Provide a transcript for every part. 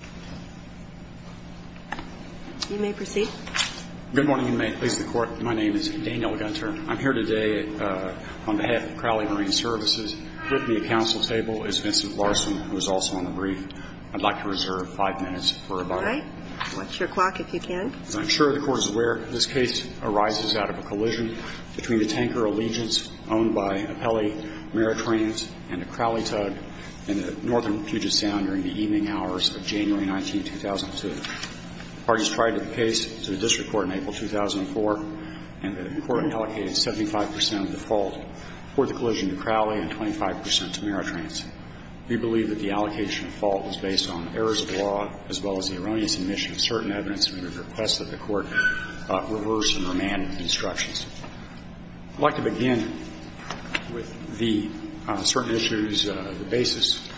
I'm here today on behalf of Crowley Marine Services. With me at council table is Vincent Larson, who is also on the brief. I'd like to reserve five minutes for rebuttal. All right. Watch your clock if you can. I'm sure the Court is aware this case arises out of a collision between the Tanker Allegiance owned by Appelli Maritrans and the Crowley Tug in the northern Puget Sound during the June 19, 2002. The parties tried the case to the district court in April 2004, and the court allocated 75 percent of the fault for the collision to Crowley and 25 percent to Maritrans. We believe that the allocation of fault is based on errors of law as well as the erroneous admission of certain evidence, and we would request that the Court reverse and remand the instructions. I'd like to begin with the certain issues, the basis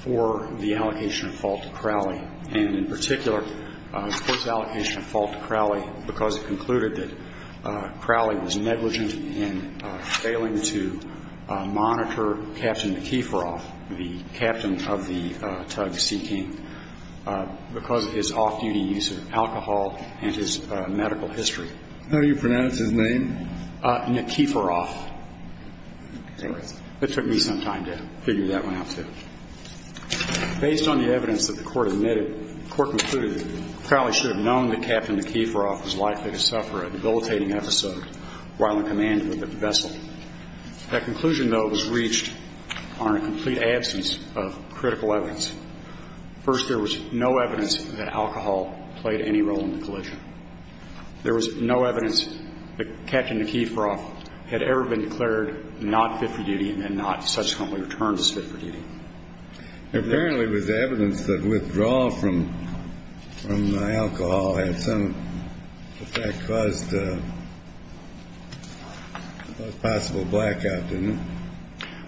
for the allocation of fault to Crowley, and in particular, the Court's allocation of fault to Crowley because it concluded that Crowley was negligent in failing to monitor Captain McKeeferoff, the captain of the Tug Sea King, because of his off-duty use of alcohol and his medical history. How do you pronounce his name? McKeeferoff. It took me some time to figure that one out, too. Based on the evidence that the Court admitted, the Court concluded that Crowley should have known that Captain McKeeferoff was likely to suffer a debilitating episode while in command of the vessel. That conclusion, though, was reached on a complete absence of critical evidence. First, there was no evidence that the withdrawal of alcohol played any role in the collision. There was no evidence that Captain McKeeferoff had ever been declared not fit for duty and then not subsequently returned as fit for duty. Apparently, it was evidence that withdrawal from the alcohol had some effect, caused the most possible blackout, didn't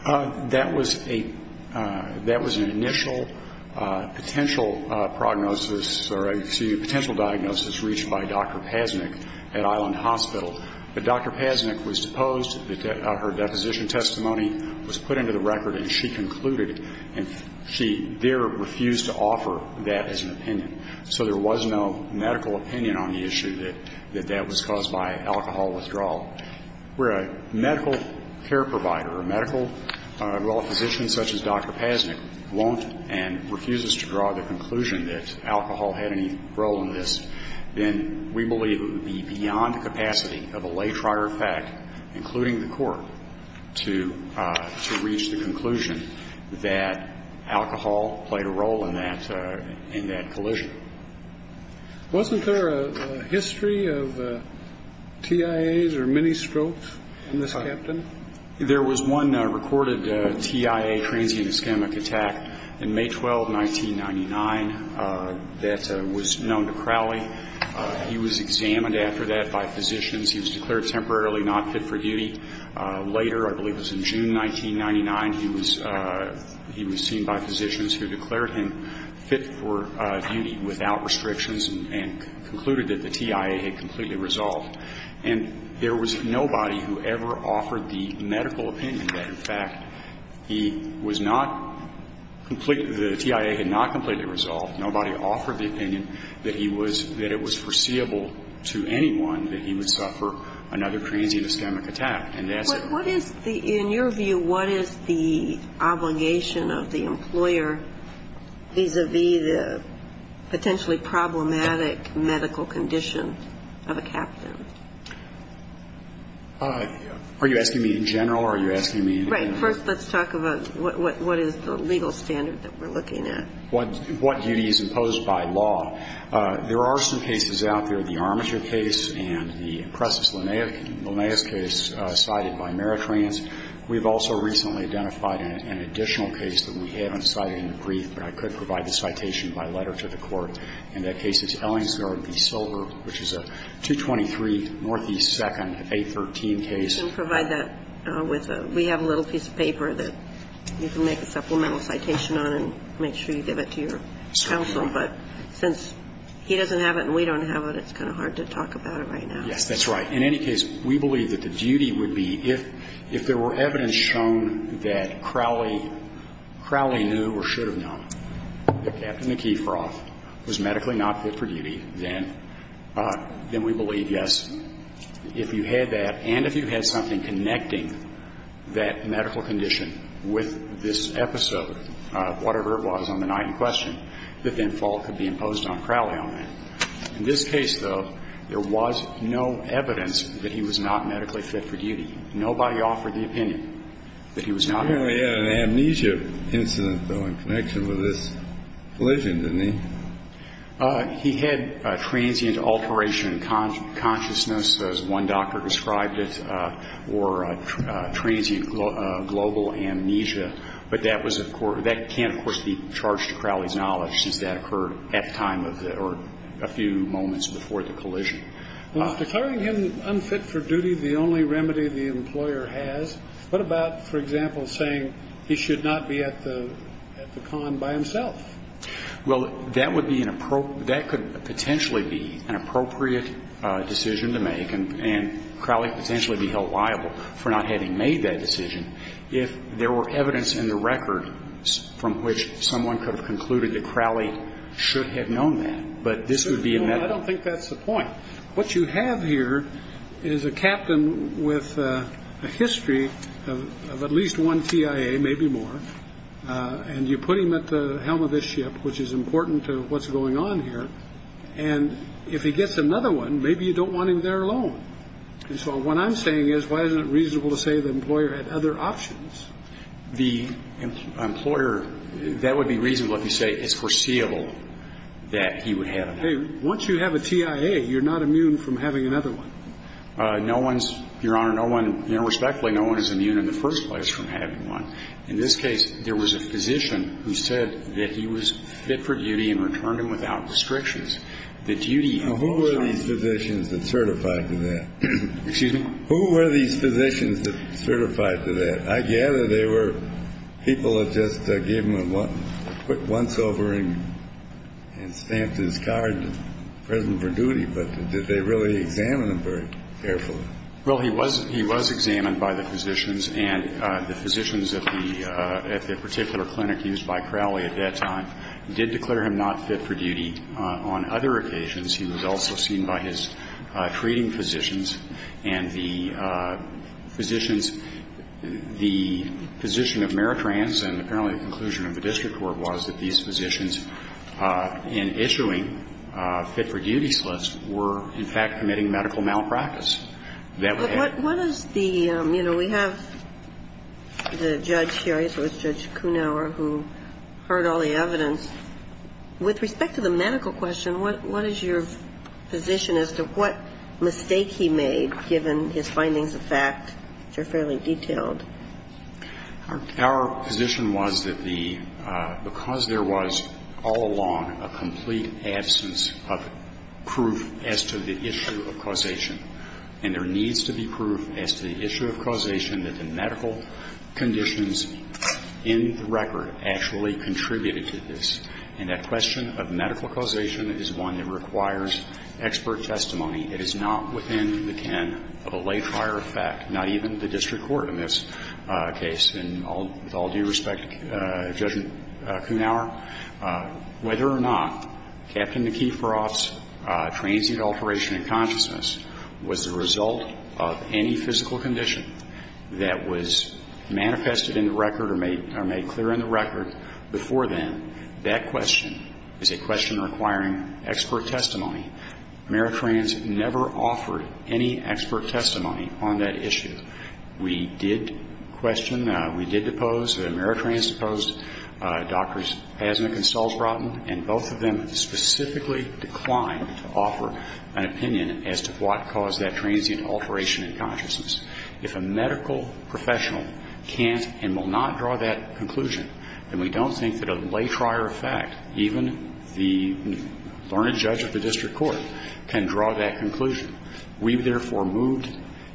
it? That was an initial potential prognosis or a potential diagnosis reached by Dr. Pasnick at Island Hospital. But Dr. Pasnick was deposed. Her deposition testimony was put into the record and she concluded and she there refused to offer that as an opinion. So there was no medical opinion on the issue that that was caused by alcohol withdrawal. Where a medical care provider or a medical physician such as Dr. Pasnick won't and refuses to draw the conclusion that alcohol had any role in this, then we believe it would be beyond the capacity of a late-rider fact, including the Court, to reach the conclusion that alcohol played a role in that collision. Wasn't there a history of TIAs or mini-strokes in this Captain? There was one recorded TIA, transient ischemic attack, in May 12, 1999, that was known to Crowley. He was examined after that by physicians. He was declared temporarily not fit for duty. Later, I believe it was in June 1999, he was seen by physicians who declared him fit for duty without restrictions and concluded that the TIA had completely resolved. And there was nobody who ever offered the medical opinion that, in fact, he was not completely the TIA had not completely resolved. Nobody offered the opinion that he was that it was foreseeable to anyone that he would suffer another transient ischemic attack. And that's it. In your view, what is the obligation of the employer vis-à-vis the potentially problematic medical condition of a Captain? Are you asking me in general or are you asking me in general? Right. First, let's talk about what is the legal standard that we're looking at. What duty is imposed by law? There are some cases out there, the Armature case and the Impressus Linnaeus case cited by Meritrans. We've also recently identified an additional case that we haven't cited in the brief, but I could provide the citation by letter to the Court. And that case is Ellingsgaard v. Silver, which is a 223 Northeast 2nd, 813 case. We can provide that with a we have a little piece of paper that you can make a supplemental citation on and make sure you give it to your counsel. But since he doesn't have it and we don't have it, it's kind of hard to talk about it right now. Yes, that's right. In any case, we believe that the duty would be if there were evidence shown that Crowley knew or should have known that Captain McKeithroff was medically not fit for duty, then we believe, yes, if you had that and if you had something connecting that medical condition with this episode, whatever it was on the night in question, that then fault could be imposed on Crowley on that. In this case, though, there was no evidence that he was not medically fit for duty. Nobody offered the opinion that he was not. He only had an amnesia incident, though, in connection with this collision, didn't he? He had transient alteration in consciousness, as one doctor described it, or transient global amnesia. But that was, of course, that can, of course, be charged to Crowley's knowledge a few moments before the collision. Well, if declaring him unfit for duty is the only remedy the employer has, what about, for example, saying he should not be at the con by himself? Well, that would be an appropriate, that could potentially be an appropriate decision to make, and Crowley could potentially be held liable for not having made that decision if there were evidence in the record from which someone could have concluded that Crowley should have known that. But this would be a medical. I don't think that's the point. What you have here is a captain with a history of at least one TIA, maybe more, and you put him at the helm of this ship, which is important to what's going on here, and if he gets another one, maybe you don't want him there alone. And so what I'm saying is why isn't it reasonable to say the employer had other options? The employer, that would be reasonable if you say it's foreseeable that he would have another one. Hey, once you have a TIA, you're not immune from having another one. No one's, Your Honor, no one, you know, respectfully, no one is immune in the first place from having one. In this case, there was a physician who said that he was fit for duty and returned him without restrictions. The duty of all jobs. Now, who were these physicians that certified to that? Excuse me? Who were these physicians that certified to that? I gather they were people that just gave him a quick once-over and stamped his card present for duty, but did they really examine him very carefully? Well, he was examined by the physicians, and the physicians at the particular clinic used by Crowley at that time did declare him not fit for duty. On other occasions, he was also seen by his treating physicians, and the physicians at the particular clinic did declare him not fit for duty. Now, in this case, the physician of Meritrans, and apparently the conclusion of the district court was that these physicians in issuing fit-for-duty slips were, in fact, committing medical malpractice. What is the, you know, we have the judge here, I suppose, Judge Kunauer, who heard all the evidence. With respect to the medical question, what is your position as to what mistake he made, given his findings of fact, which are fairly detailed? Our position was that the, because there was all along a complete absence of proof as to the issue of causation, and there needs to be proof as to the issue of causation that the medical conditions in the record actually contributed to this. And that question of medical causation is one that requires expert testimony. It is not within the ken of a late-fire effect, not even the district court in this case. And with all due respect, Judge Kunauer, whether or not Captain McKeeferoff's transient alteration in consciousness was the result of any physical condition that was manifested in the record or made clear in the record before then, that question is a question requiring expert testimony. Ameritrans never offered any expert testimony on that issue. We did question, we did depose, Ameritrans deposed Drs. Pasnick and Salsbrotten, and both of them specifically declined to offer an opinion as to what caused that transient alteration in consciousness. If a medical professional can't and will not draw that conclusion, then we don't think that a late-fire effect, even the learned judge of the district court, can draw that conclusion. We, therefore, moved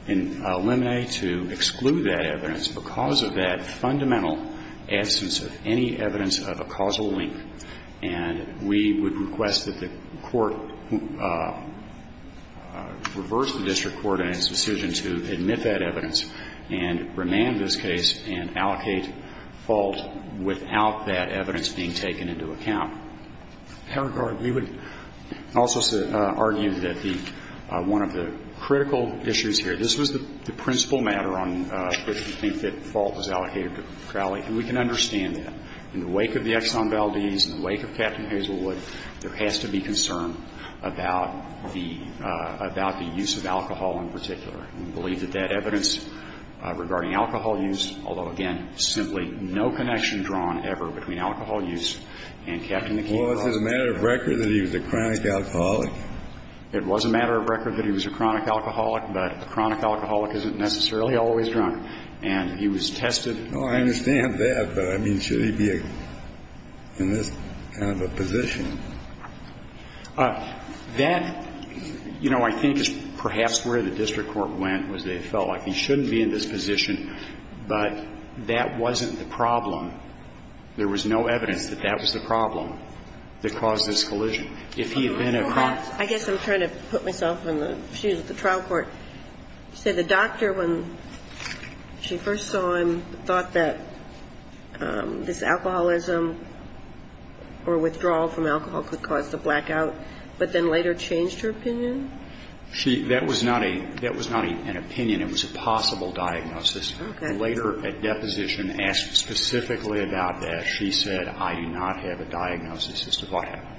in Lemonet to exclude that evidence because of that fundamental absence of any evidence of a causal link. And we would request that the court reverse the district court in its decision to admit that evidence and remand this case and allocate fault without that evidence being taken into account. Paragard, we would also argue that the one of the critical issues here, this was the principal matter on which we think that fault was allocated to Crowley, and we can understand that. In the wake of the Exxon Valdez, in the wake of Captain Hazelwood, there has to be some sort of connection drawn. We believe that that evidence regarding alcohol use, although, again, simply no connection drawn ever between alcohol use and Captain McKeon. Well, is it a matter of record that he was a chronic alcoholic? It was a matter of record that he was a chronic alcoholic, but a chronic alcoholic isn't necessarily always drunk. And he was tested. Oh, I understand that, but, I mean, should he be in this kind of a position? That, you know, I think is perhaps where the district court went, was they felt like he shouldn't be in this position, but that wasn't the problem. There was no evidence that that was the problem that caused this collision. If he had been a chronic alcoholic. I guess I'm trying to put myself in the shoes of the trial court. You said the doctor, when she first saw him, thought that this alcoholism or withdrawal from alcohol could cause the blackout, but then later changed her opinion? She, that was not a, that was not an opinion. It was a possible diagnosis. Okay. And later a deposition asked specifically about that. She said, I do not have a diagnosis as to what happened.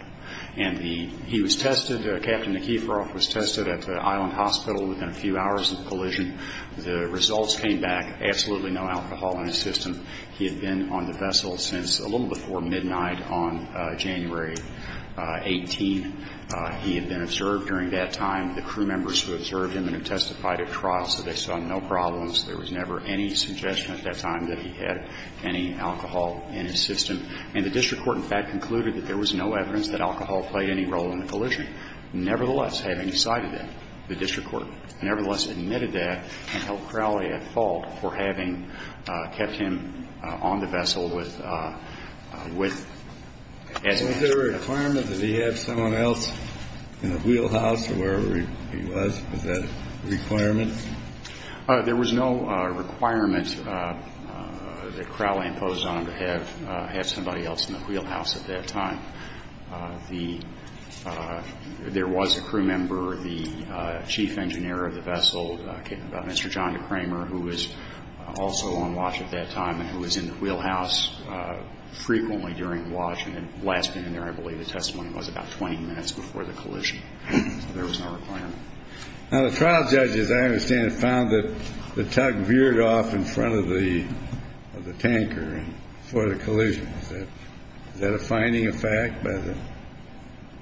And the, he was tested, Captain McKeon was tested at the Island Hospital within a few hours of the collision. The results came back, absolutely no alcohol in his system. He had been on the vessel since a little before midnight on January 18th. He had been observed during that time. The crew members who observed him and who testified at trial said they saw no problems. There was never any suggestion at that time that he had any alcohol in his system. And the district court, in fact, concluded that there was no evidence that alcohol played any role in the collision. Nevertheless, having decided that, the district court nevertheless admitted that and held Crowley at fault for having kept him on the vessel with, with. Was there a requirement that he have someone else in the wheelhouse or wherever he was? Was that a requirement? There was no requirement that Crowley imposed on him to have, have somebody else in the wheelhouse at that time. The, there was a crew member, the chief engineer of the vessel, Mr. John Kramer, who was also on watch at that time and who was in the wheelhouse frequently during watch and had last been in there, I believe the testimony was, about 20 minutes before the collision. So there was no requirement. Now, the trial judges, I understand, found that the tug veered off in front of the, of the tanker before the collision. Is that a finding of fact?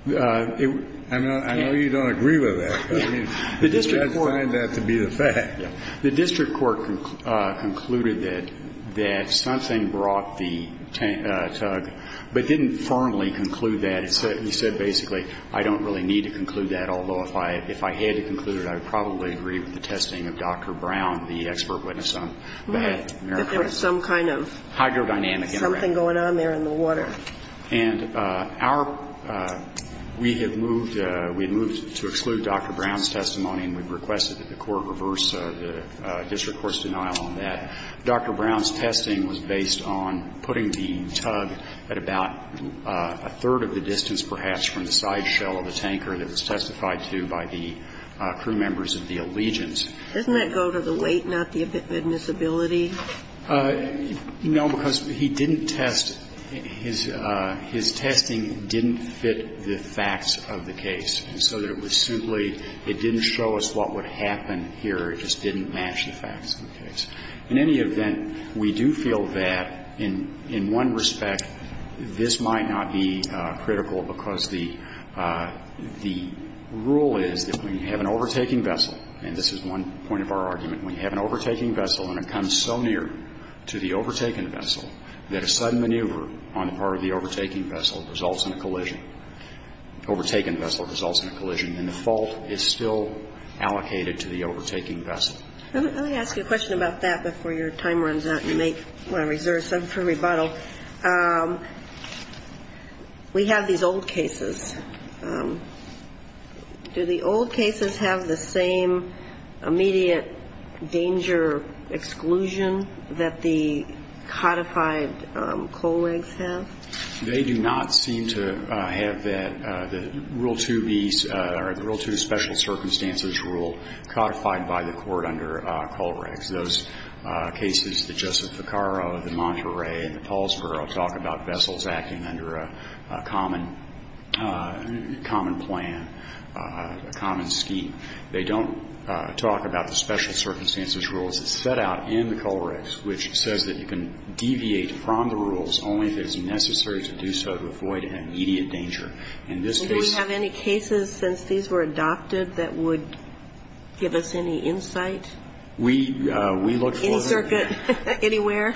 I know you don't agree with that, but I mean, you can't find that to be the fact. The district court concluded that, that something brought the tug, but didn't firmly conclude that. It said, it said basically, I don't really need to conclude that, although if I, if I had to conclude it, I would probably agree with the testing of Dr. Brown, the expert witness on that. I don't think that there was some kind of hydrodynamic impact. Something going on there in the water. And our, we have moved, we have moved to exclude Dr. Brown's testimony and we've requested that the court reverse the district court's denial on that. Dr. Brown's testing was based on putting the tug at about a third of the distance perhaps from the sideshell of the tanker that was testified to by the crew members of the allegiance. Doesn't that go to the weight, not the admissibility? No, because he didn't test, his, his testing didn't fit the facts of the case. And so it was simply, it didn't show us what would happen here. It just didn't match the facts of the case. In any event, we do feel that in, in one respect, this might not be critical because the, the rule is that when you have an overtaking vessel, and this is one point of our argument. When you have an overtaking vessel and it comes so near to the overtaken vessel that a sudden maneuver on the part of the overtaking vessel results in a collision, overtaken vessel results in a collision, then the fault is still allocated to the overtaking vessel. Let me ask you a question about that before your time runs out and you make, want to reserve some for rebuttal. We have these old cases. Do the old cases have the same immediate danger exclusion that the codified Kohlregs have? They do not seem to have that, the Rule 2B, or the Rule 2 special circumstances rule codified by the court under Kohlregs. Those cases that Joseph Ficarro, the Monterey, and the Paulsboro talk about vessels acting under a common, common plan, a common scheme. They don't talk about the special circumstances rules that set out in the Kohlregs which says that you can deviate from the rules only if it's necessary to do so to avoid an immediate danger. In this case. Do we have any cases since these were adopted that would give us any insight? We looked for them. Any circuit, anywhere?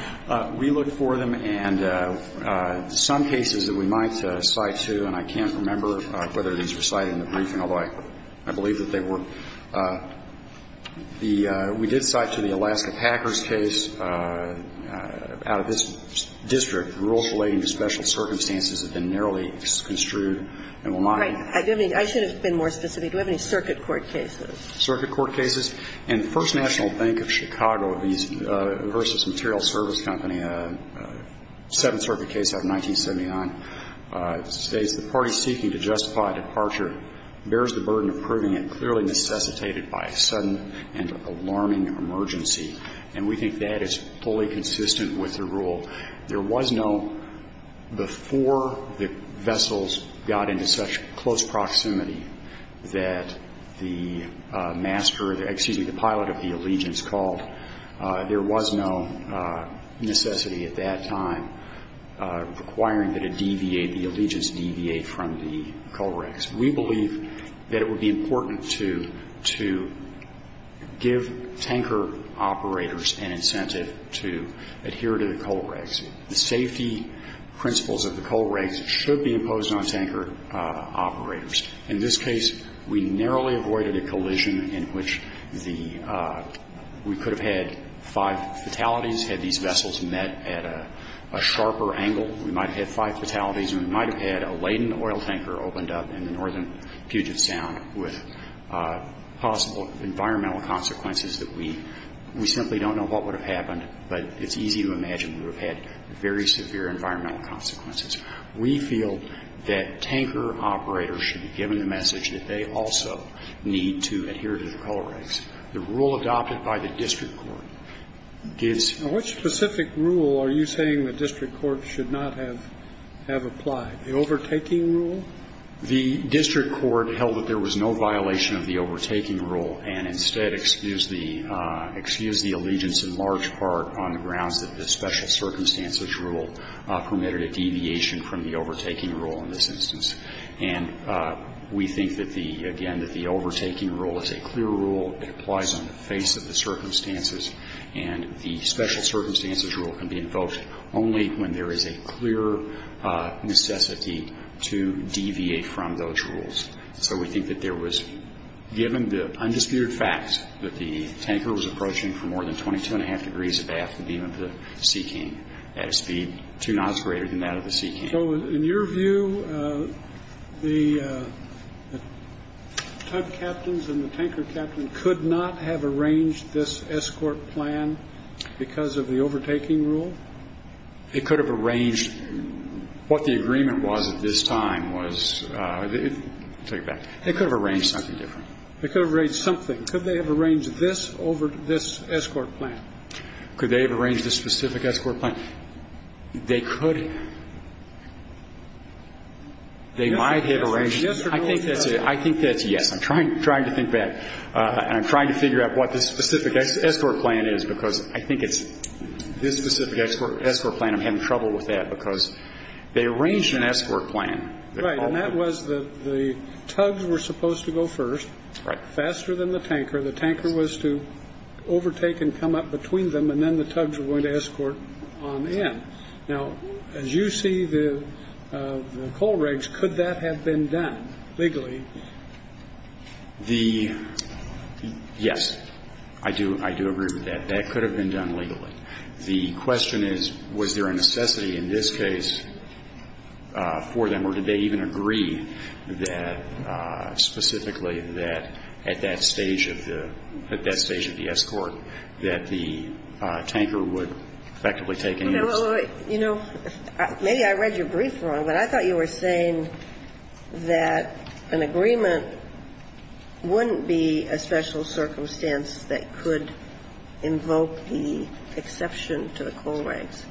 We looked for them. And some cases that we might cite to, and I can't remember whether these were cited in the briefing, although I believe that they were. The we did cite to the Alaska Packers case out of this district rules relating to special circumstances have been narrowly construed and will not be. Right. I should have been more specific. Do we have any circuit court cases? Circuit court cases. In the First National Bank of Chicago versus Material Service Company, seventh circuit case out of 1979, it states, the party seeking to justify departure bears the burden of proving it clearly necessitated by a sudden and alarming emergency. And we think that is fully consistent with the rule. There was no before the vessels got into such close proximity that the master, excuse me, the pilot of the Allegiance called. There was no necessity at that time requiring that it deviate, the Allegiance deviate from the coal rigs. We believe that it would be important to give tanker operators an incentive to adhere to the coal rigs. The safety principles of the coal rigs should be imposed on tanker operators. In this case, we narrowly avoided a collision in which the we could have had five fatalities, had these vessels met at a sharper angle. We might have had five fatalities and we might have had a laden oil tanker opened up in the northern Puget Sound with possible environmental consequences that we simply don't know what would have happened, but it's easy to imagine we would have had very severe environmental consequences. We feel that tanker operators should be given the message that they also need to adhere to the coal rigs. The rule adopted by the district court gives. And which specific rule are you saying the district court should not have applied, the overtaking rule? The district court held that there was no violation of the overtaking rule, and instead excused the Allegiance in large part on the grounds that the special circumstances rule permitted a deviation from the overtaking rule in this instance. And we think that the, again, that the overtaking rule is a clear rule. It applies on the face of the circumstances. And the special circumstances rule can be invoked only when there is a clear necessity to deviate from those rules. So we think that there was, given the undisputed fact that the tanker was approaching for more than 22 1⁄2 degrees above the beam of the Sea King at a speed two knots greater than that of the Sea King. So in your view, the tug captains and the tanker captain could not have arranged this escort plan because of the overtaking rule? It could have arranged, what the agreement was at this time was, take it back, it could have arranged something different. It could have arranged something. Could they have arranged this over this escort plan? Could they have arranged a specific escort plan? They could. They might have arranged. I think that's a yes. I'm trying to think back. And I'm trying to figure out what the specific escort plan is because I think it's this specific escort plan I'm having trouble with that because they arranged an escort plan. Right. And that was the tugs were supposed to go first. Right. They were supposed to go faster than the tanker. The tanker was to overtake and come up between them, and then the tugs were going to escort on in. Now, as you see the coal rigs, could that have been done legally? Yes, I do agree with that. That could have been done legally. The question is, was there a necessity in this case for them, or did they even agree that specifically that at that stage of the escort that the tanker would effectively take an interest? You know, maybe I read your brief wrong, but I thought you were saying that an agreement wouldn't be a special circumstance that could invoke the exception to the coal rigs.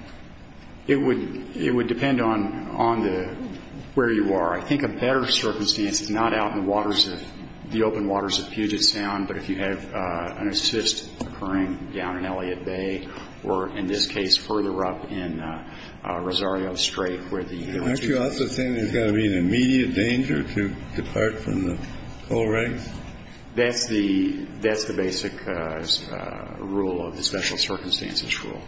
It would depend on where you are. I think a better circumstance is not out in the open waters of Puget Sound, but if you have an assist occurring down in Elliott Bay or, in this case, further up in Rosario Strait. Aren't you also saying there's got to be an immediate danger to depart from the coal rigs? That's the basic rule of the special circumstances rule.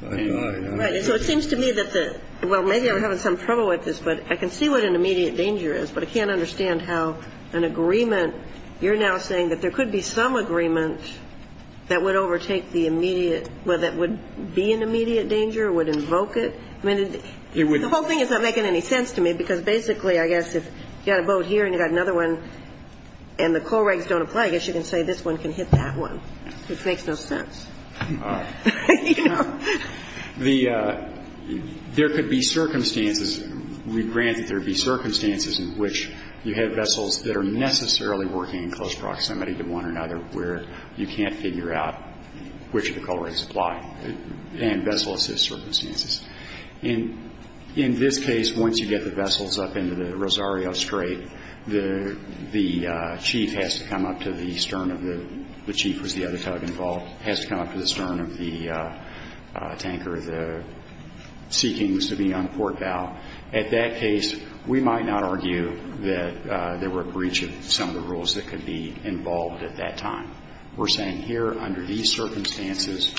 Right. So it seems to me that the – well, maybe I'm having some trouble with this, but I can see what an immediate danger is, but I can't understand how an agreement – you're now saying that there could be some agreement that would overtake the immediate – well, that would be an immediate danger, would invoke it? I mean, the whole thing is not making any sense to me, because basically, I guess, if you've got a boat here and you've got another one and the coal rigs don't apply, I guess you can say this one can hit that one, which makes no sense. All right. You know. The – there could be circumstances – we grant that there be circumstances in which you have vessels that are necessarily working in close proximity to one another where you can't figure out which of the coal rigs apply, and vessel assist circumstances. In this case, once you get the vessels up into the Rosario Strait, the chief has to come up to the stern of the – the chief was the other tug involved – has to come up to the stern of the tanker. The seeking was to be on port bow. At that case, we might not argue that there were a breach of some of the rules that could be involved at that time. We're saying here, under these circumstances,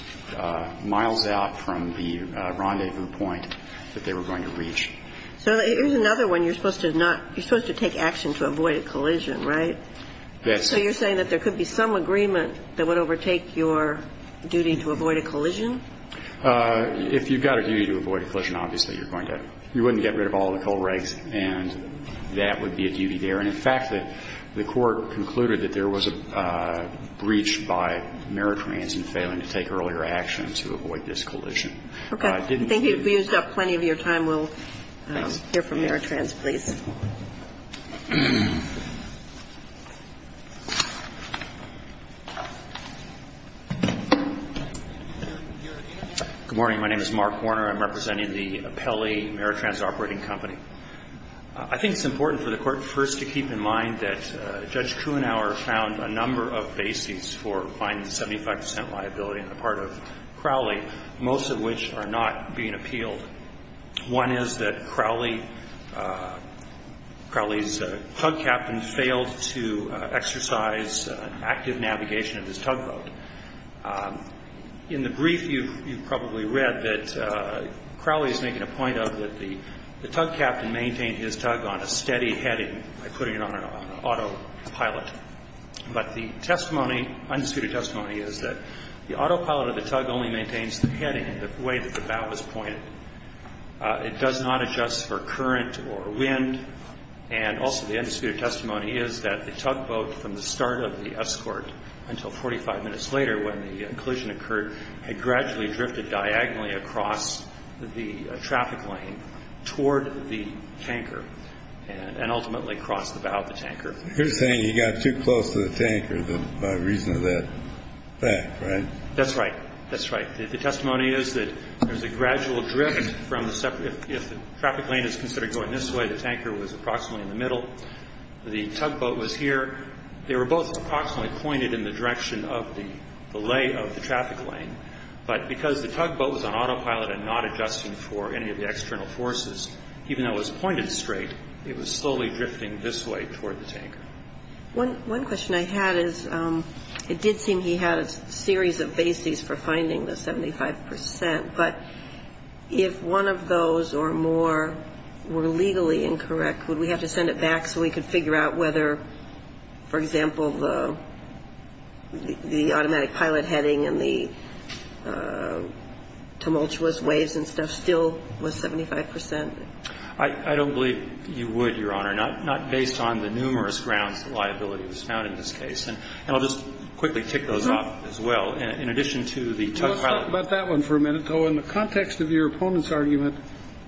miles out from the rendezvous point that they were going to reach. So here's another one. You're supposed to not – you're supposed to take action to avoid a collision, right? That's it. If you've got a duty to avoid a collision, obviously, you're going to – you wouldn't get rid of all the coal rigs, and that would be a duty there. And, in fact, the Court concluded that there was a breach by Meritrans in failing to take earlier action to avoid this collision. Okay. Thank you. We've used up plenty of your time. We'll hear from Meritrans, please. Good morning. My name is Mark Warner. I'm representing the Pelley Meritrans Operating Company. I think it's important for the Court, first, to keep in mind that Judge Kruenhauer found a number of bases for fining 75 percent liability on the part of Crowley, most of which are not being appealed. is not going to be able to appeal the case. Crowley's tug captain failed to exercise active navigation of his tugboat. In the brief, you've probably read that Crowley is making a point of that the tug captain maintained his tug on a steady heading by putting it on an autopilot. But the testimony, undisputed testimony, is that the autopilot of the tug only maintains the heading, the way that the bow is pointed. It does not adjust for current or wind. And also the undisputed testimony is that the tugboat, from the start of the escort until 45 minutes later when the collision occurred, had gradually drifted diagonally across the traffic lane toward the tanker and ultimately crossed the bow of the tanker. You're saying he got too close to the tanker by reason of that fact, right? That's right. That's right. The testimony is that there's a gradual drift from the separate – if the traffic lane is considered going this way, the tanker was approximately in the middle. The tugboat was here. They were both approximately pointed in the direction of the lay of the traffic lane. But because the tugboat was on autopilot and not adjusting for any of the external forces, even though it was pointed straight, it was slowly drifting this way toward the tanker. One question I had is it did seem he had a series of bases for finding the 75 percent. But if one of those or more were legally incorrect, would we have to send it back so we could figure out whether, for example, the automatic pilot heading and the tumultuous waves and stuff still was 75 percent? I don't believe you would, Your Honor. Not based on the numerous grounds the liability was found in this case. And I'll just quickly tick those off as well. In addition to the tug pilot. Let's talk about that one for a minute, though. In the context of your opponent's argument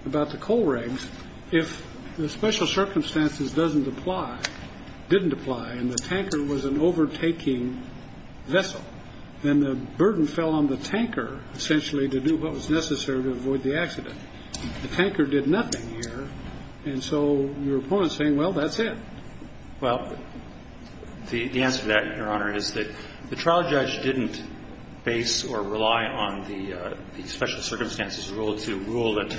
about the coal rigs, if the special circumstances doesn't apply – didn't apply and the tanker was an overtaking vessel, then the burden fell on the tanker essentially to do what was necessary to avoid the accident. The tanker did nothing here. And so your opponent is saying, well, that's it. Well, the answer to that, Your Honor, is that the trial judge didn't base or rely on the special circumstances rule to rule that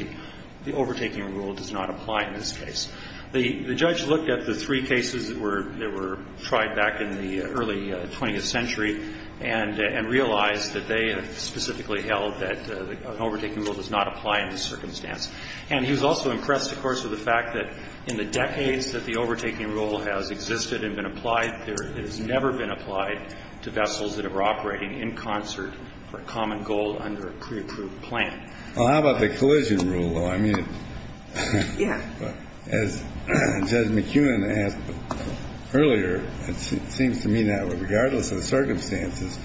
the overtaking rule does not apply in this case. The judge looked at the three cases that were tried back in the early 20th century and realized that they specifically held that an overtaking rule does not apply in this circumstance. And he was also impressed, of course, with the fact that in the decades that the overtaking rule has existed and been applied, it has never been applied to vessels that are operating in concert for common goal under a pre-approved plan. Well, how about the collision rule, though? I mean, as Judge McEwen asked earlier, it seems to me that regardless of the circumstances,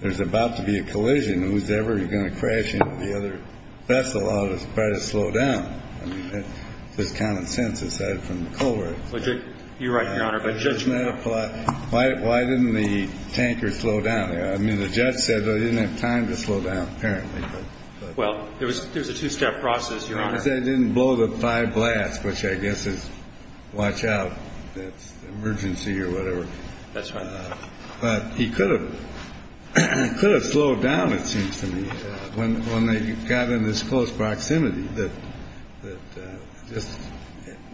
there's about to be a collision. And whoever's going to crash into the other vessel ought to try to slow down. I mean, there's common sense aside from the coal right. You're right, Your Honor. But judgment applies. Why didn't the tanker slow down? I mean, the judge said they didn't have time to slow down apparently. Well, there was a two-step process, Your Honor. I said it didn't blow the five blasts, which I guess is watch out. That's emergency or whatever. That's right. But he could have slowed down, it seems to me, when they got in this close proximity that just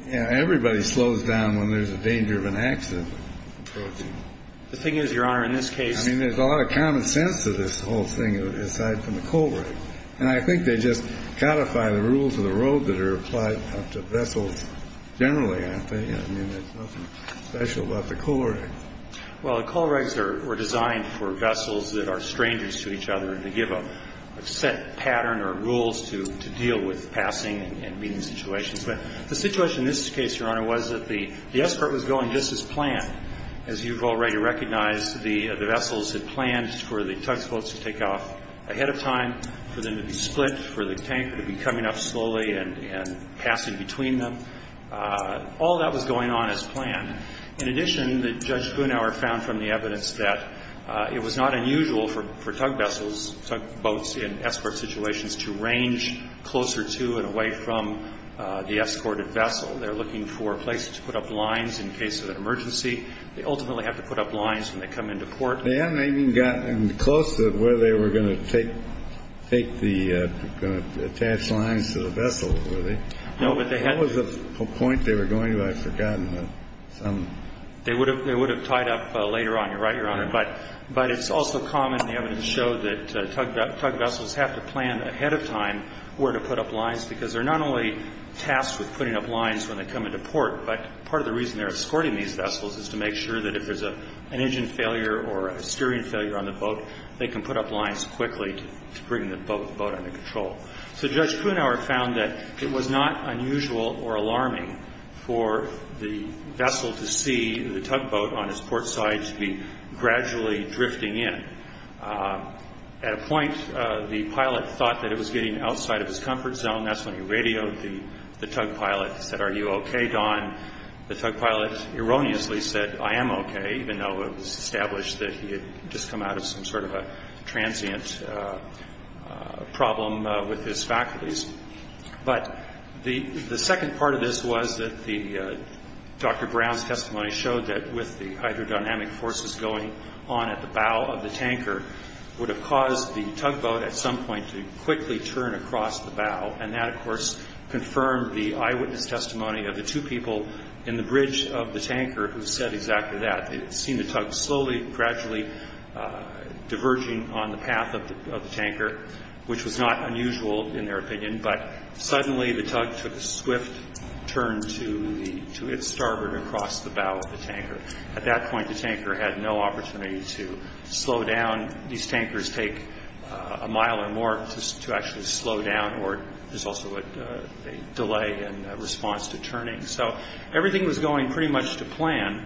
everybody slows down when there's a danger of an accident approaching. The thing is, Your Honor, in this case. I mean, there's a lot of common sense to this whole thing aside from the coal right. And I think they just codify the rules of the road that are applied to vessels generally, aren't they? I mean, there's nothing special about the coal right. Well, the coal rights were designed for vessels that are strangers to each other to give a set pattern or rules to deal with passing and meeting situations. But the situation in this case, Your Honor, was that the escort was going just as planned. As you've already recognized, the vessels had planned for the tugboats to take off ahead of time, for them to be split, for the tanker to be coming up slowly and passing between them. All that was going on as planned. In addition, Judge Brunauer found from the evidence that it was not unusual for tugboats in escort situations to range closer to and away from the escorted vessel. They're looking for places to put up lines in case of an emergency. They ultimately have to put up lines when they come into port. They hadn't even gotten close to where they were going to take the attached lines to the vessel, were they? No, but they had to. What was the point they were going to? I've forgotten. They would have tied up later on. You're right, Your Honor. But it's also common in the evidence show that tug vessels have to plan ahead of time where to put up lines because they're not only tasked with putting up lines when they come into port, but part of the reason they're escorting these vessels is to make sure that if there's an engine failure or a steering failure on the boat, they can put up lines quickly to bring the boat under control. So Judge Kuenhauer found that it was not unusual or alarming for the vessel to see the tugboat on its port side to be gradually drifting in. At a point, the pilot thought that it was getting outside of his comfort zone. That's when he radioed the tug pilot and said, Are you okay, Don? The tug pilot erroneously said, I am okay, even though it was established that he had just come out of some sort of a transient problem with his faculties. But the second part of this was that Dr. Brown's testimony showed that with the hydrodynamic forces going on at the bow of the tanker would have caused the tugboat at some point to quickly turn across the bow, and that, of course, confirmed the eyewitness testimony of the two people in the bridge of the tanker who said exactly that. They had seen the tug slowly, gradually diverging on the path of the tanker, which was not unusual in their opinion, but suddenly the tug took a swift turn to its starboard across the bow of the tanker. At that point, the tanker had no opportunity to slow down. These tankers take a mile or more to actually slow down, or there's also a delay in response to turning. So everything was going pretty much to plan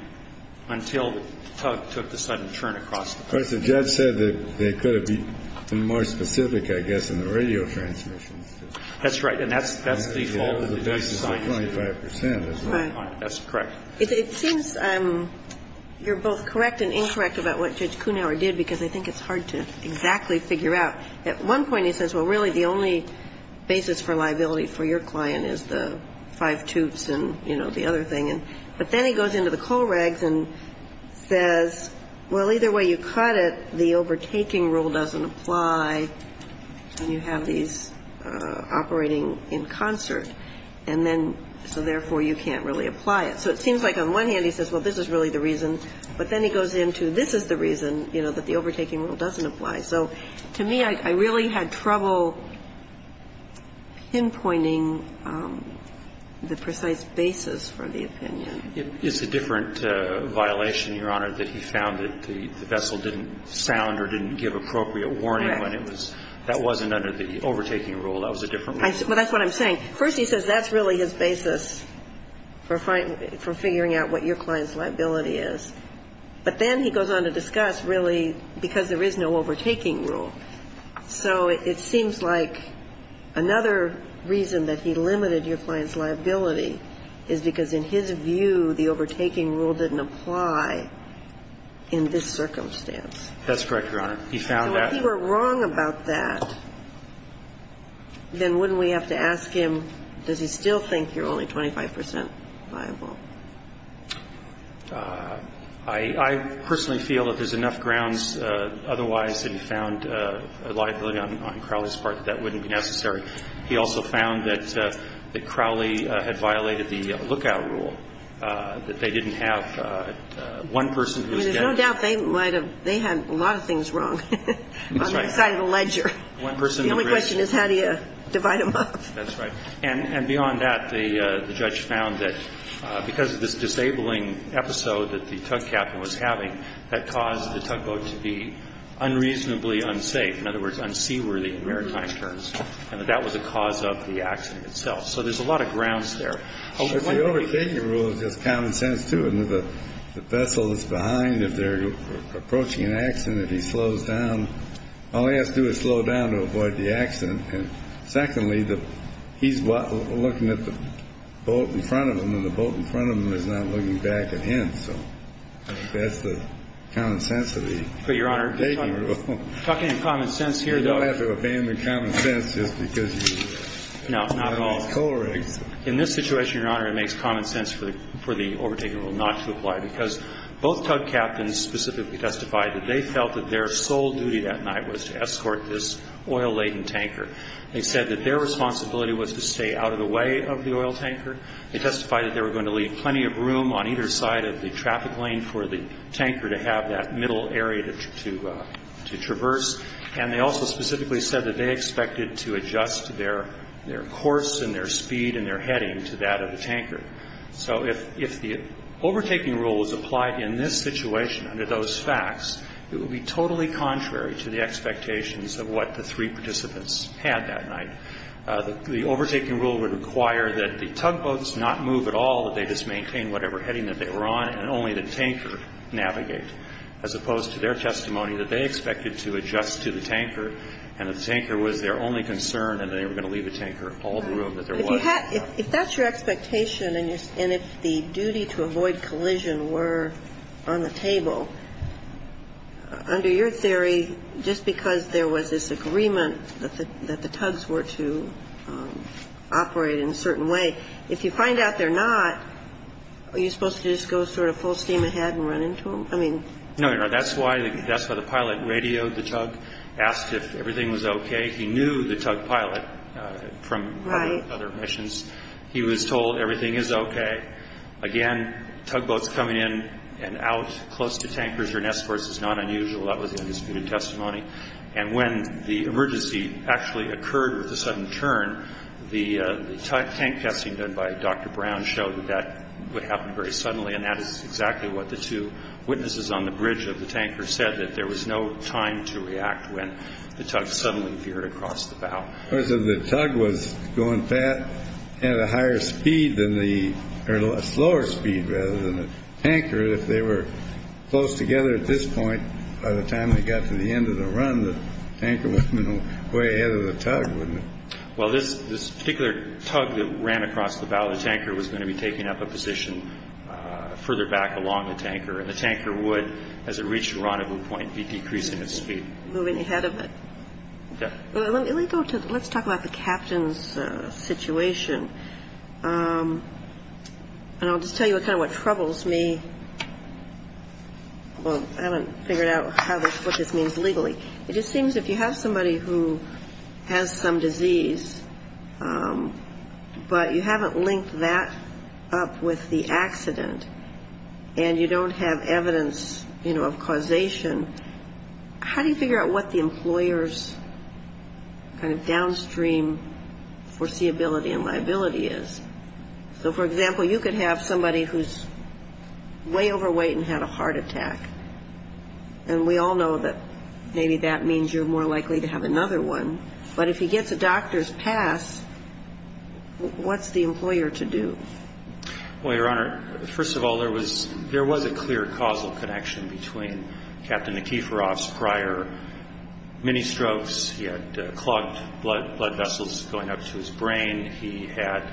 until the tug took the sudden turn across the bow. But the judge said that they could have been more specific, I guess, in the radio transmission. That's right. And that's the whole basis of 25 percent. Right. That's correct. It seems you're both correct and incorrect about what Judge Kuhnhauer did, because I think it's hard to exactly figure out. At one point he says, well, really the only basis for liability for your client is the five toots and, you know, the other thing. But then he goes into the Kohlregs and says, well, either way you cut it, the overtaking rule doesn't apply, and you have these operating in concert, and then so therefore you can't really apply it. So it seems like on one hand he says, well, this is really the reason, but then he goes into this is the reason, you know, that the overtaking rule doesn't apply. So to me, I really had trouble pinpointing the precise basis for the opinion. It's a different violation, Your Honor, that he found that the vessel didn't sound or didn't give appropriate warning when it was – that wasn't under the overtaking rule. That was a different rule. But that's what I'm saying. First he says that's really his basis for figuring out what your client's liability is. But then he goes on to discuss really because there is no overtaking rule. So it seems like another reason that he limited your client's liability is because in his view the overtaking rule didn't apply in this circumstance. That's correct, Your Honor. He found that. So if he were wrong about that, then wouldn't we have to ask him, does he still think you're only 25 percent liable? I personally feel that there's enough grounds otherwise that he found a liability on Crowley's part that that wouldn't be necessary. He also found that Crowley had violated the lookout rule, that they didn't have one person who was getting. I mean, there's no doubt they might have – they had a lot of things wrong. That's right. On the side of the ledger. The only question is how do you divide them up. That's right. And beyond that, the judge found that because of this disabling episode that the tug captain was having, that caused the tugboat to be unreasonably unsafe, in other words, unseaworthy in maritime terms, and that that was the cause of the accident itself. So there's a lot of grounds there. But the overtaking rule is just common sense, too. The vessel that's behind, if they're approaching an accident, if he slows down, all he has to do is slow down to avoid the accident. And secondly, he's looking at the boat in front of him, and the boat in front of him is not looking back at him. So that's the common sense of the taking rule. But, Your Honor, talking in common sense here, though – You don't have to abandon common sense just because you – No, not at all. – have these colorings. In this situation, Your Honor, it makes common sense for the overtaking rule not to apply, because both tug captains specifically testified that they felt that their They said that their responsibility was to stay out of the way of the oil tanker. They testified that they were going to leave plenty of room on either side of the traffic lane for the tanker to have that middle area to traverse. And they also specifically said that they expected to adjust their course and their speed and their heading to that of the tanker. So if the overtaking rule was applied in this situation under those facts, it would be totally contrary to the expectations of what the three participants had that night. The overtaking rule would require that the tugboats not move at all, that they just maintain whatever heading that they were on, and only the tanker navigate, as opposed to their testimony that they expected to adjust to the tanker, and that the tanker was their only concern, and they were going to leave the tanker all the room that there was. If that's your expectation, and if the duty to avoid collision were on the table, under your theory, just because there was this agreement that the tugs were to operate in a certain way, if you find out they're not, are you supposed to just go sort of full steam ahead and run into them? No, that's why the pilot radioed the tug, asked if everything was okay. He knew the tug pilot from other missions. He was told everything is okay. Again, tugboats coming in and out close to tankers or nests, of course, is not unusual. That was the undisputed testimony. And when the emergency actually occurred with a sudden turn, the tank testing done by Dr. Brown showed that that would happen very suddenly, and that is exactly what the two witnesses on the bridge of the tanker said, that there was no time to react when the tug suddenly veered across the bow. The tug was going at a higher speed than the, or a slower speed rather than the tanker. If they were close together at this point, by the time they got to the end of the run, the tanker would have been way ahead of the tug, wouldn't it? Well, this particular tug that ran across the bow, the tanker was going to be taking up a position further back along the tanker, and the tanker would, as it reached the rendezvous point, be decreasing its speed. Moving ahead of it. Yeah. Let's talk about the captain's situation. And I'll just tell you kind of what troubles me. Well, I haven't figured out what this means legally. It just seems if you have somebody who has some disease, but you haven't linked that up with the accident, and you don't have evidence, you know, of causation, how do you figure out what the employer's kind of downstream foreseeability and liability is? So, for example, you could have somebody who's way overweight and had a heart attack, and we all know that maybe that means you're more likely to have another one. But if he gets a doctor's pass, what's the employer to do? Well, Your Honor, first of all, there was a clear causal connection between Captain Nikiforov's prior mini strokes. He had clogged blood vessels going up to his brain. He had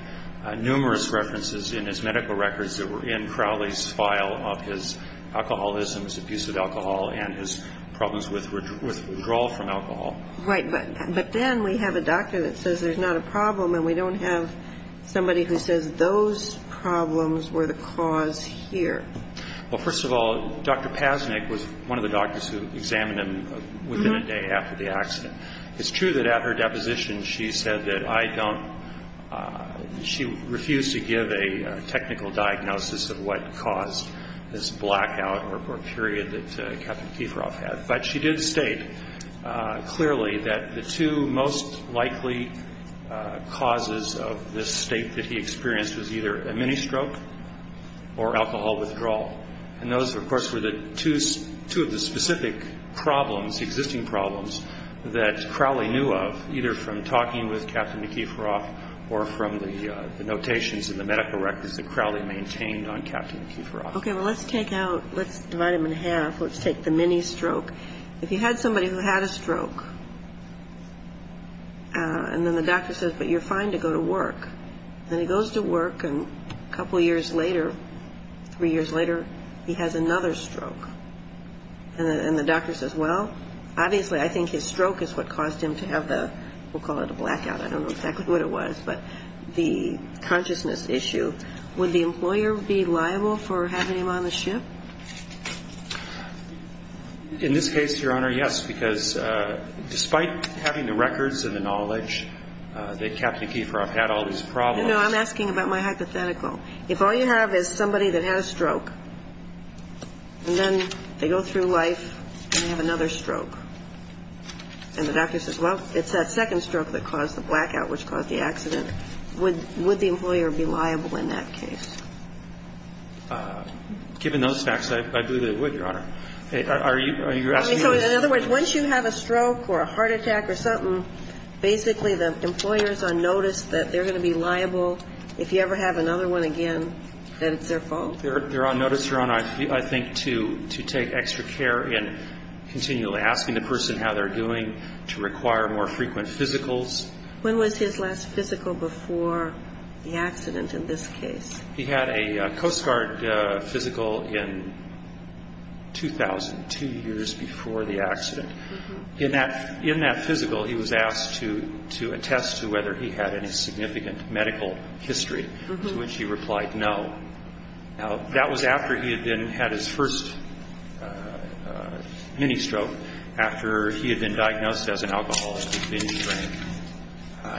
numerous references in his medical records that were in Crowley's file of his alcoholism, his abuse of alcohol, and his problems with withdrawal from alcohol. Right. But then we have a doctor that says there's not a problem, and we don't have somebody who says those problems were the cause here. Well, first of all, Dr. Pasnick was one of the doctors who examined him within a day after the accident. It's true that at her deposition she said that I don't – she refused to give a technical diagnosis of what caused this blackout or period that Captain Nikiforov had. But she did state clearly that the two most likely causes of this state that he experienced was either a mini stroke or alcohol withdrawal. And those, of course, were the two of the specific problems, existing problems, that Crowley knew of either from talking with Captain Nikiforov or from the notations in the medical records that Crowley maintained on Captain Nikiforov. Okay. Well, let's take out – let's divide them in half. Let's take the mini stroke. If you had somebody who had a stroke, and then the doctor says, but you're fine to go to work, then he goes to work, and a couple years later, three years later, he has another stroke. And the doctor says, well, obviously I think his stroke is what caused him to have the – we'll call it a blackout. I don't know exactly what it was, but the consciousness issue. Would the employer be liable for having him on the ship? In this case, Your Honor, yes, because despite having the records and the knowledge that Captain Nikiforov had all these problems. You know, I'm asking about my hypothetical. If all you have is somebody that had a stroke, and then they go through life, and they have another stroke, and the doctor says, well, it's that second stroke that caused the blackout, which caused the accident, would the employer be liable in that case? Given those facts, I believe they would, Your Honor. Are you asking me this? I mean, so in other words, once you have a stroke or a heart attack or something, basically the employer is on notice that they're going to be liable. If you ever have another one again, that it's their fault. They're on notice, Your Honor, I think, to take extra care in continually asking the person how they're doing, to require more frequent physicals. When was his last physical before the accident in this case? He had a Coast Guard physical in 2000, two years before the accident. In that physical, he was asked to attest to whether he had any significant medical history, to which he replied no. Now, that was after he had had his first mini-stroke, after he had been diagnosed as an alcoholic with binge drinking.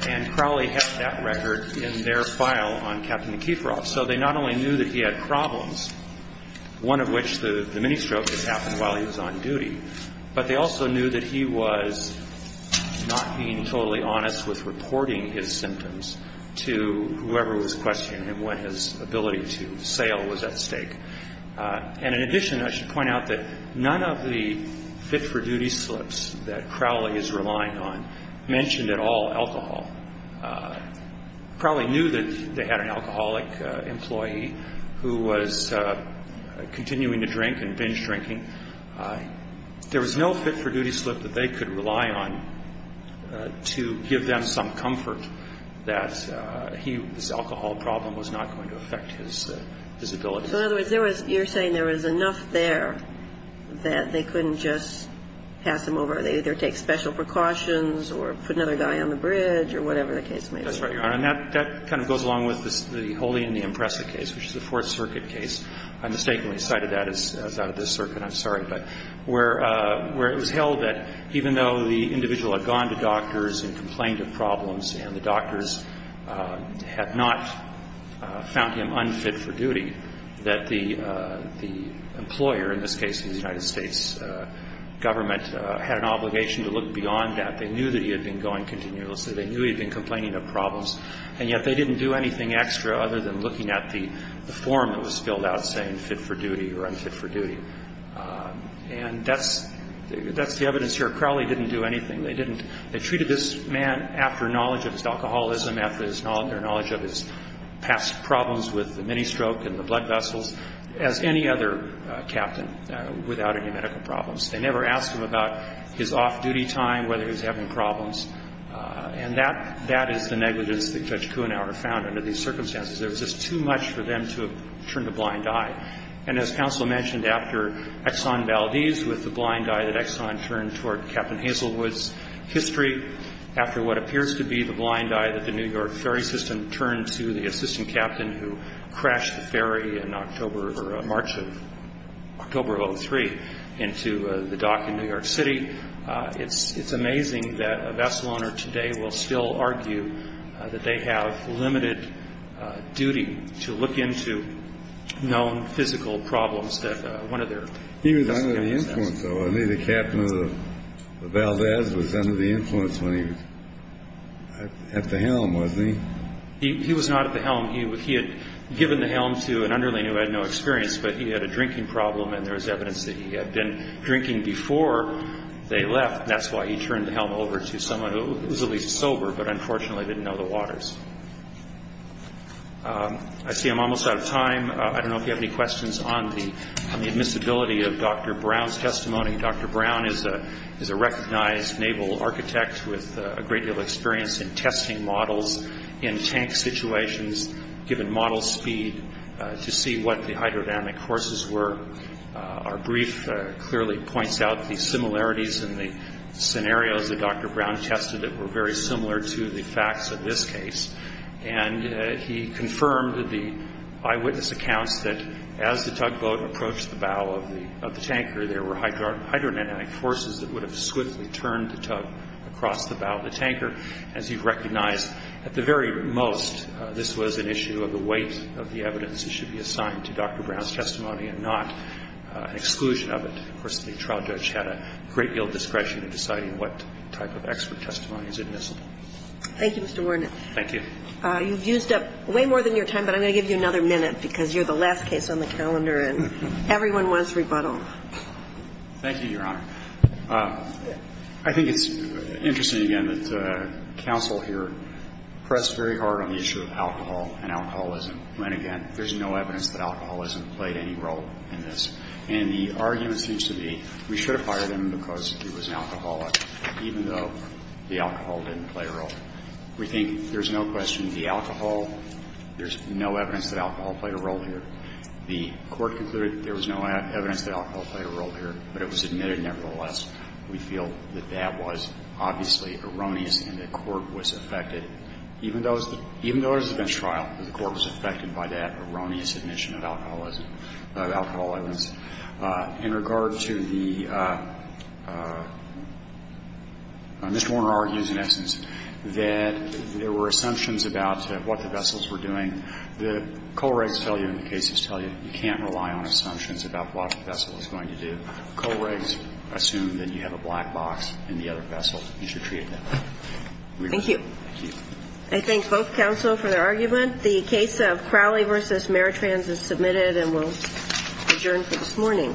And Crowley had that record in their file on Captain McKeithroff. So they not only knew that he had problems, one of which the mini-stroke had happened while he was on duty, but they also knew that he was not being totally honest with reporting his symptoms to whoever was questioning him when his ability to sail was at stake. And in addition, I should point out that none of the fit-for-duty slips that Crowley is relying on mentioned at all alcohol. Crowley knew that they had an alcoholic employee who was continuing to drink and binge drinking. There was no fit-for-duty slip that they could rely on to give them some comfort that his alcohol problem was not going to affect his ability. So in other words, you're saying there was enough there that they couldn't just pass him over. They either take special precautions or put another guy on the bridge or whatever the case may be. That's right, Your Honor. And that kind of goes along with the Holy and the Impressive case, which is a Fourth Circuit case. I mistakenly cited that as out of this circuit. I'm sorry. But where it was held that even though the individual had gone to doctors and complained of problems and the doctors had not found him unfit for duty, that the employer, in this case the United States government, had an obligation to look beyond that. They knew that he had been going continuously. They knew he had been complaining of problems. And yet they didn't do anything extra other than looking at the form that was filled out saying fit-for-duty or unfit-for-duty. And that's the evidence here. Crowley didn't do anything. They treated this man after knowledge of his alcoholism, after their knowledge of his past problems with the mini-stroke and the blood vessels, as any other captain without any medical problems. They never asked him about his off-duty time, whether he was having problems. And that is the negligence that Judge Kuhnhauer found under these circumstances. There was just too much for them to have turned a blind eye. And as counsel mentioned, after Exxon Valdez, with the blind eye that Exxon turned toward Captain Hazelwood's history, after what appears to be the blind eye that the New York ferry system turned to the assistant captain who crashed the ferry in March of October of 2003 into the dock in New York City, it's amazing that a vessel owner today will still argue that they have limited duty to look into known physical problems that one of their customers has. So I mean, the captain of the Valdez was under the influence when he was at the helm, wasn't he? He was not at the helm. He had given the helm to an underling who had no experience, but he had a drinking problem and there was evidence that he had been drinking before they left, and that's why he turned the helm over to someone who was at least sober but unfortunately didn't know the waters. I see I'm almost out of time. I don't know if you have any questions on the admissibility of Dr. Brown's testimony. Dr. Brown is a recognized naval architect with a great deal of experience in testing models in tank situations, given model speed, to see what the hydrodynamic forces were. Our brief clearly points out the similarities in the scenarios that Dr. Brown tested that were very similar to the facts of this case. And he confirmed that the eyewitness accounts that as the tugboat approached the bow of the tanker, there were hydrodynamic forces that would have swiftly turned the tug across the bow of the tanker. As you've recognized, at the very most, this was an issue of the weight of the evidence that should be assigned to Dr. Brown's testimony and not an exclusion of it. Of course, the trial judge had a great deal of discretion in deciding what type of expert testimony is admissible. Thank you, Mr. Wernick. Thank you. You've used up way more than your time, but I'm going to give you another minute because you're the last case on the calendar and everyone wants rebuttal. Thank you, Your Honor. I think it's interesting, again, that counsel here pressed very hard on the issue of alcohol and alcoholism, when, again, there's no evidence that alcoholism played any role in this. And the argument seems to be we should have fired him because he was an alcoholic, even though the alcohol didn't play a role. We think there's no question the alcohol, there's no evidence that alcohol played a role here. The Court concluded there was no evidence that alcohol played a role here, but it was admitted nevertheless. We feel that that was obviously erroneous and the Court was affected. Even though it was a bench trial, the Court was affected by that erroneous admission of alcoholism, of alcoholism. And I think we'll end with that. I think the point of the case is that, in regard to the Mr. Warner argues, in essence, that there were assumptions about what the vessels were doing. The Kohlreggs tell you and the cases tell you you can't rely on assumptions about what the vessel is going to do. Kohlreggs assumes that you have a black box in the other vessel and you should treat it that way. Thank you. I thank both counsel for their argument. The case of Crowley v. Maritrans is submitted and we'll adjourn for this morning.